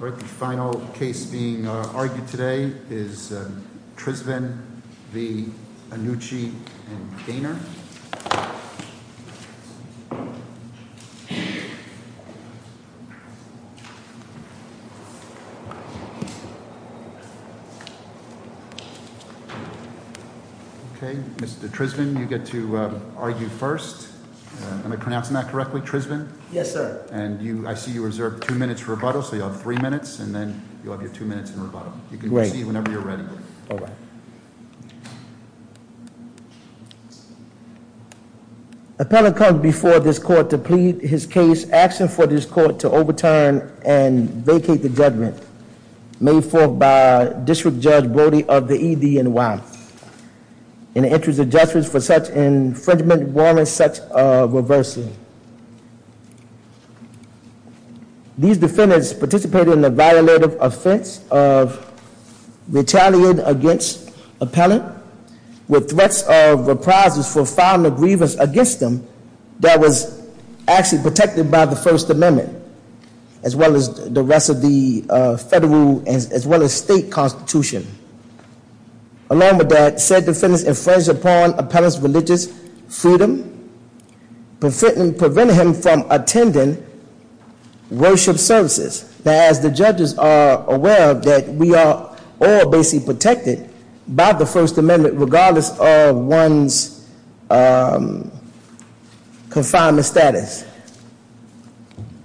All right, the final case being argued today is Trisvan v. Annucci and Gainer. Okay, Mr. Trisvan, you get to argue first. Am I pronouncing that correctly, Trisvan? Yes, sir. And I see you reserved two minutes for rebuttal, so you'll have three minutes and then you'll have your two minutes in rebuttal. You can proceed whenever you're ready. All right. Appellant comes before this court to plead his case. Asking for this court to overturn and vacate the judgment made forth by District Judge Brody of the EDNY. In the interest of justice for such infringement warrants such reversing. These defendants participated in the violative offense of retaliating against appellant. With threats of reprisals for filing a grievance against them that was actually protected by the First Amendment. As well as the rest of the federal, as well as state constitution. Along with that, said defendants infringed upon appellant's religious freedom. Preventing him from attending worship services. Now as the judges are aware of that we are all basically protected by the First Amendment regardless of one's confinement status.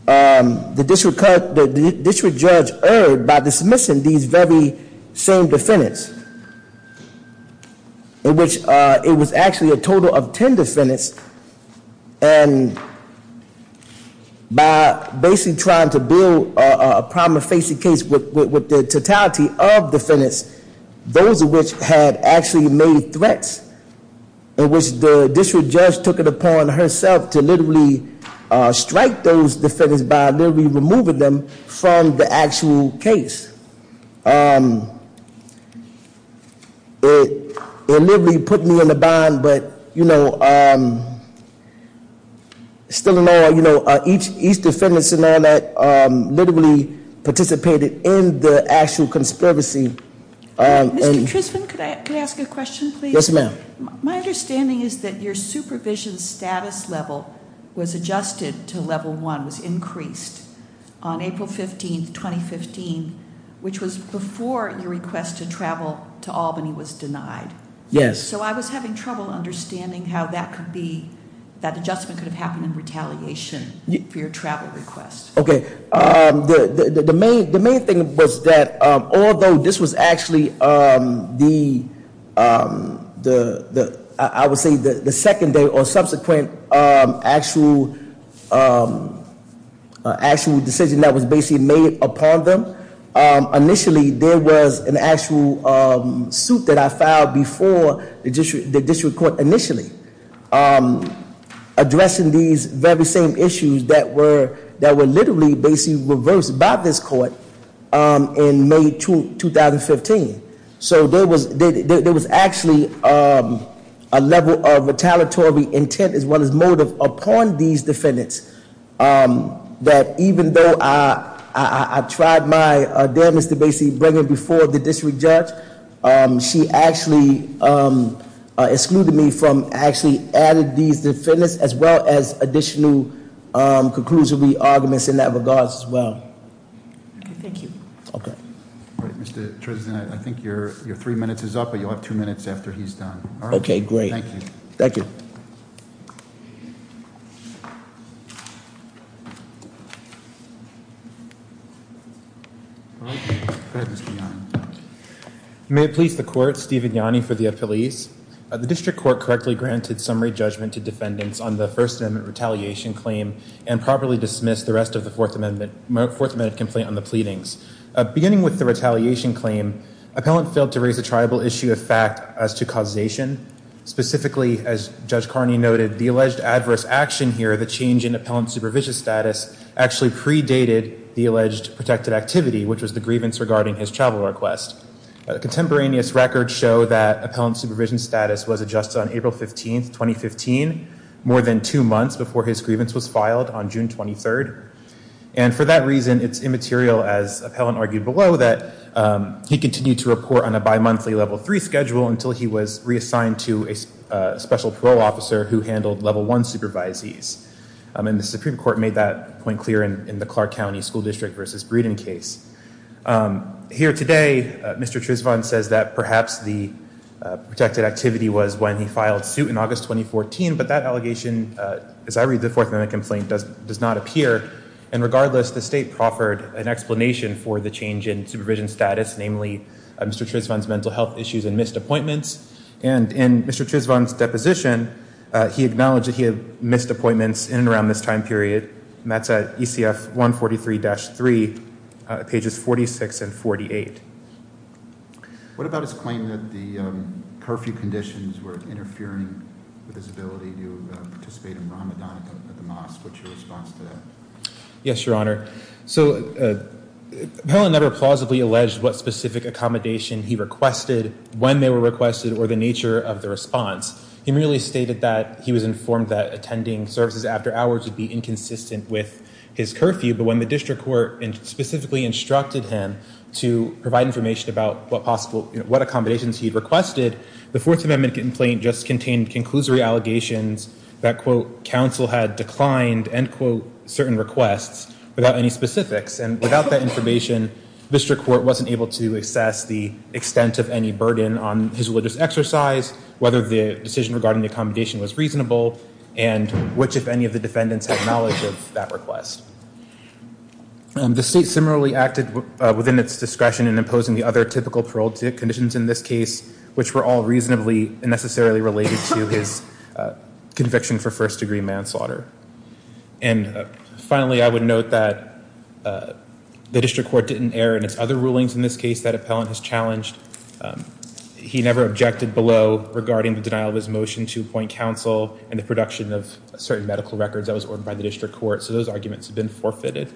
The district judge erred by dismissing these very same defendants. In which it was actually a total of ten defendants. And by basically trying to build a problem facing case with the totality of defendants. Those of which had actually made threats. In which the district judge took it upon herself to literally strike those defendants by literally removing them from the actual case. It literally put me in a bind, but still in all, each defendants and all that literally participated in the actual conspiracy. Mr. Trisman, could I ask you a question, please? Yes, ma'am. My understanding is that your supervision status level was adjusted to level one, was increased on April 15th, 2015, which was before your request to travel to Albany was denied. Yes. So I was having trouble understanding how that could be, that adjustment could have happened in retaliation for your travel request. Okay, the main thing was that although this was actually the, I would say, the second day or subsequent actual decision that was basically made upon them. Initially, there was an actual suit that I filed before the district court initially. Addressing these very same issues that were literally basically reversed by this court in May 2015. So there was actually a level of retaliatory intent as well as motive upon these defendants. That even though I tried my damage to basically bring it before the district judge, she actually excluded me from actually adding these defendants, as well as additional conclusively arguments in that regards as well. Okay, thank you. Okay. All right, Mr. Trisman, I think your three minutes is up, but you'll have two minutes after he's done. Okay, great. Thank you. Thank you. Okay, go ahead, Mr. Yanni. May it please the court, Steven Yanni for the appellees. The district court correctly granted summary judgment to defendants on the first amendment retaliation claim and properly dismissed the rest of the fourth amendment complaint on the pleadings. Beginning with the retaliation claim, appellant failed to raise a tribal issue of fact as to causation. Specifically, as Judge Carney noted, the alleged adverse action here, the change in appellant supervision status actually predated the alleged protected activity, which was the grievance regarding his travel request. Contemporaneous records show that appellant supervision status was adjusted on April 15th, 2015, more than two months before his grievance was filed on June 23rd. And for that reason, it's immaterial, as appellant argued below, that he continued to report on a bimonthly level three schedule until he was reassigned to a special parole officer who handled level one supervisees. And the Supreme Court made that point clear in the Clark County School District versus Breeden case. Here today, Mr. Trisvon says that perhaps the protected activity was when he filed suit in August 2014, but that allegation, as I read the fourth amendment complaint, does not appear. And regardless, the state proffered an explanation for the change in supervision status, namely Mr. Trisvon's mental health issues and missed appointments. And in Mr. Trisvon's deposition, he acknowledged that he had missed appointments in and around this time period, and that's at ECF 143-3, pages 46 and 48. What about his claim that the curfew conditions were interfering with his ability to participate in Ramadan at the mosque? What's your response to that? Yes, Your Honor. So, appellant never plausibly alleged what specific accommodation he requested, when they were requested, or the nature of the response. He merely stated that he was informed that attending services after hours would be inconsistent with his curfew. But when the district court specifically instructed him to provide information about what accommodations he'd requested, the fourth amendment complaint just contained conclusory allegations that, quote, counsel had declined, end quote, certain requests without any specifics. And without that information, district court wasn't able to assess the extent of any burden on his religious exercise, whether the decision regarding the accommodation was reasonable, and which, if any, of the defendants had knowledge of that request. The state similarly acted within its discretion in imposing the other typical parole conditions in this case, which were all reasonably and necessarily related to his conviction for first degree manslaughter. And finally, I would note that the district court didn't err in its other rulings in this case that appellant has challenged. He never objected below regarding the denial of his motion to appoint counsel and the production of certain medical records that was ordered by the district court. So, those arguments have been forfeited.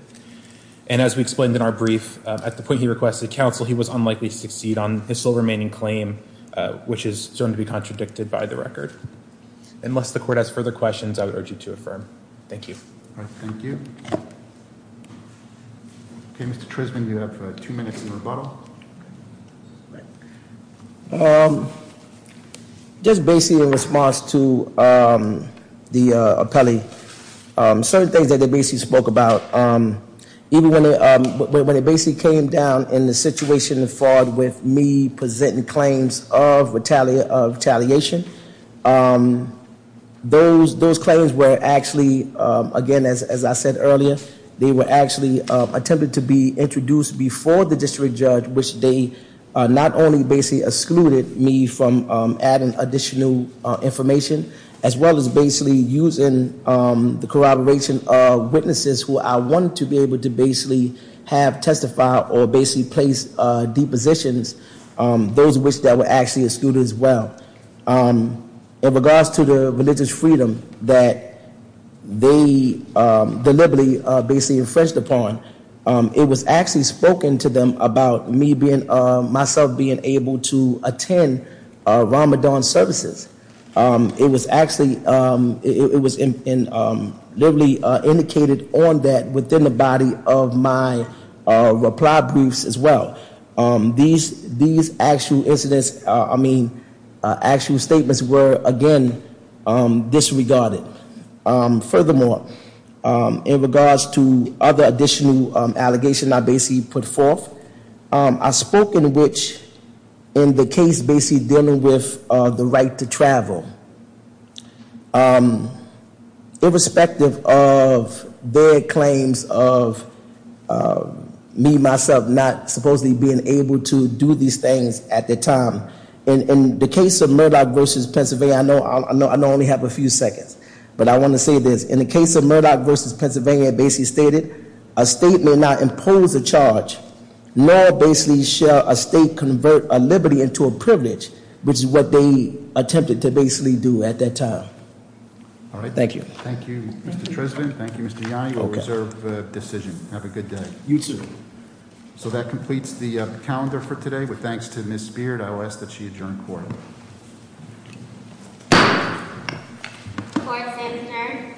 And as we explained in our brief, at the point he requested counsel, he was unlikely to succeed on his sole remaining claim, which is going to be contradicted by the record. Unless the court has further questions, I would urge you to affirm. Thank you. All right. Thank you. Okay, Mr. Trisman, you have two minutes in rebuttal. All right. Just basically in response to the appellee, certain things that they basically spoke about, even when it basically came down in the situation with me presenting claims of retaliation. Those claims were actually, again, as I said earlier, they were actually attempted to be introduced before the district judge, which they not only basically excluded me from adding additional information, as well as basically using the corroboration of witnesses who I wanted to be able to basically have testify or basically place depositions, those which that were actually excluded as well. In regards to the religious freedom that they deliberately basically infringed upon, it was actually spoken to them about me being, myself being able to attend Ramadan services. It was actually, it was literally indicated on that within the body of my reply briefs as well. These actual incidents, I mean, actual statements were, again, disregarded. Furthermore, in regards to other additional allegations I basically put forth, I spoke in which in the case basically dealing with the right to travel. Irrespective of their claims of me, myself, not supposedly being able to do these things at the time. In the case of Murdoch versus Pennsylvania, I know I only have a few seconds, but I want to say this. In the case of Murdoch versus Pennsylvania, it basically stated, a state may not impose a charge, nor basically shall a state convert a liberty into a privilege, which is what they attempted to basically do at that time. All right. Thank you. Thank you, Mr. President. Thank you, Mr. Yanni. We'll reserve the decision. Have a good day. You too. So that completes the calendar for today. But thanks to Ms. Speared, I will ask that she adjourn court. Court is adjourned.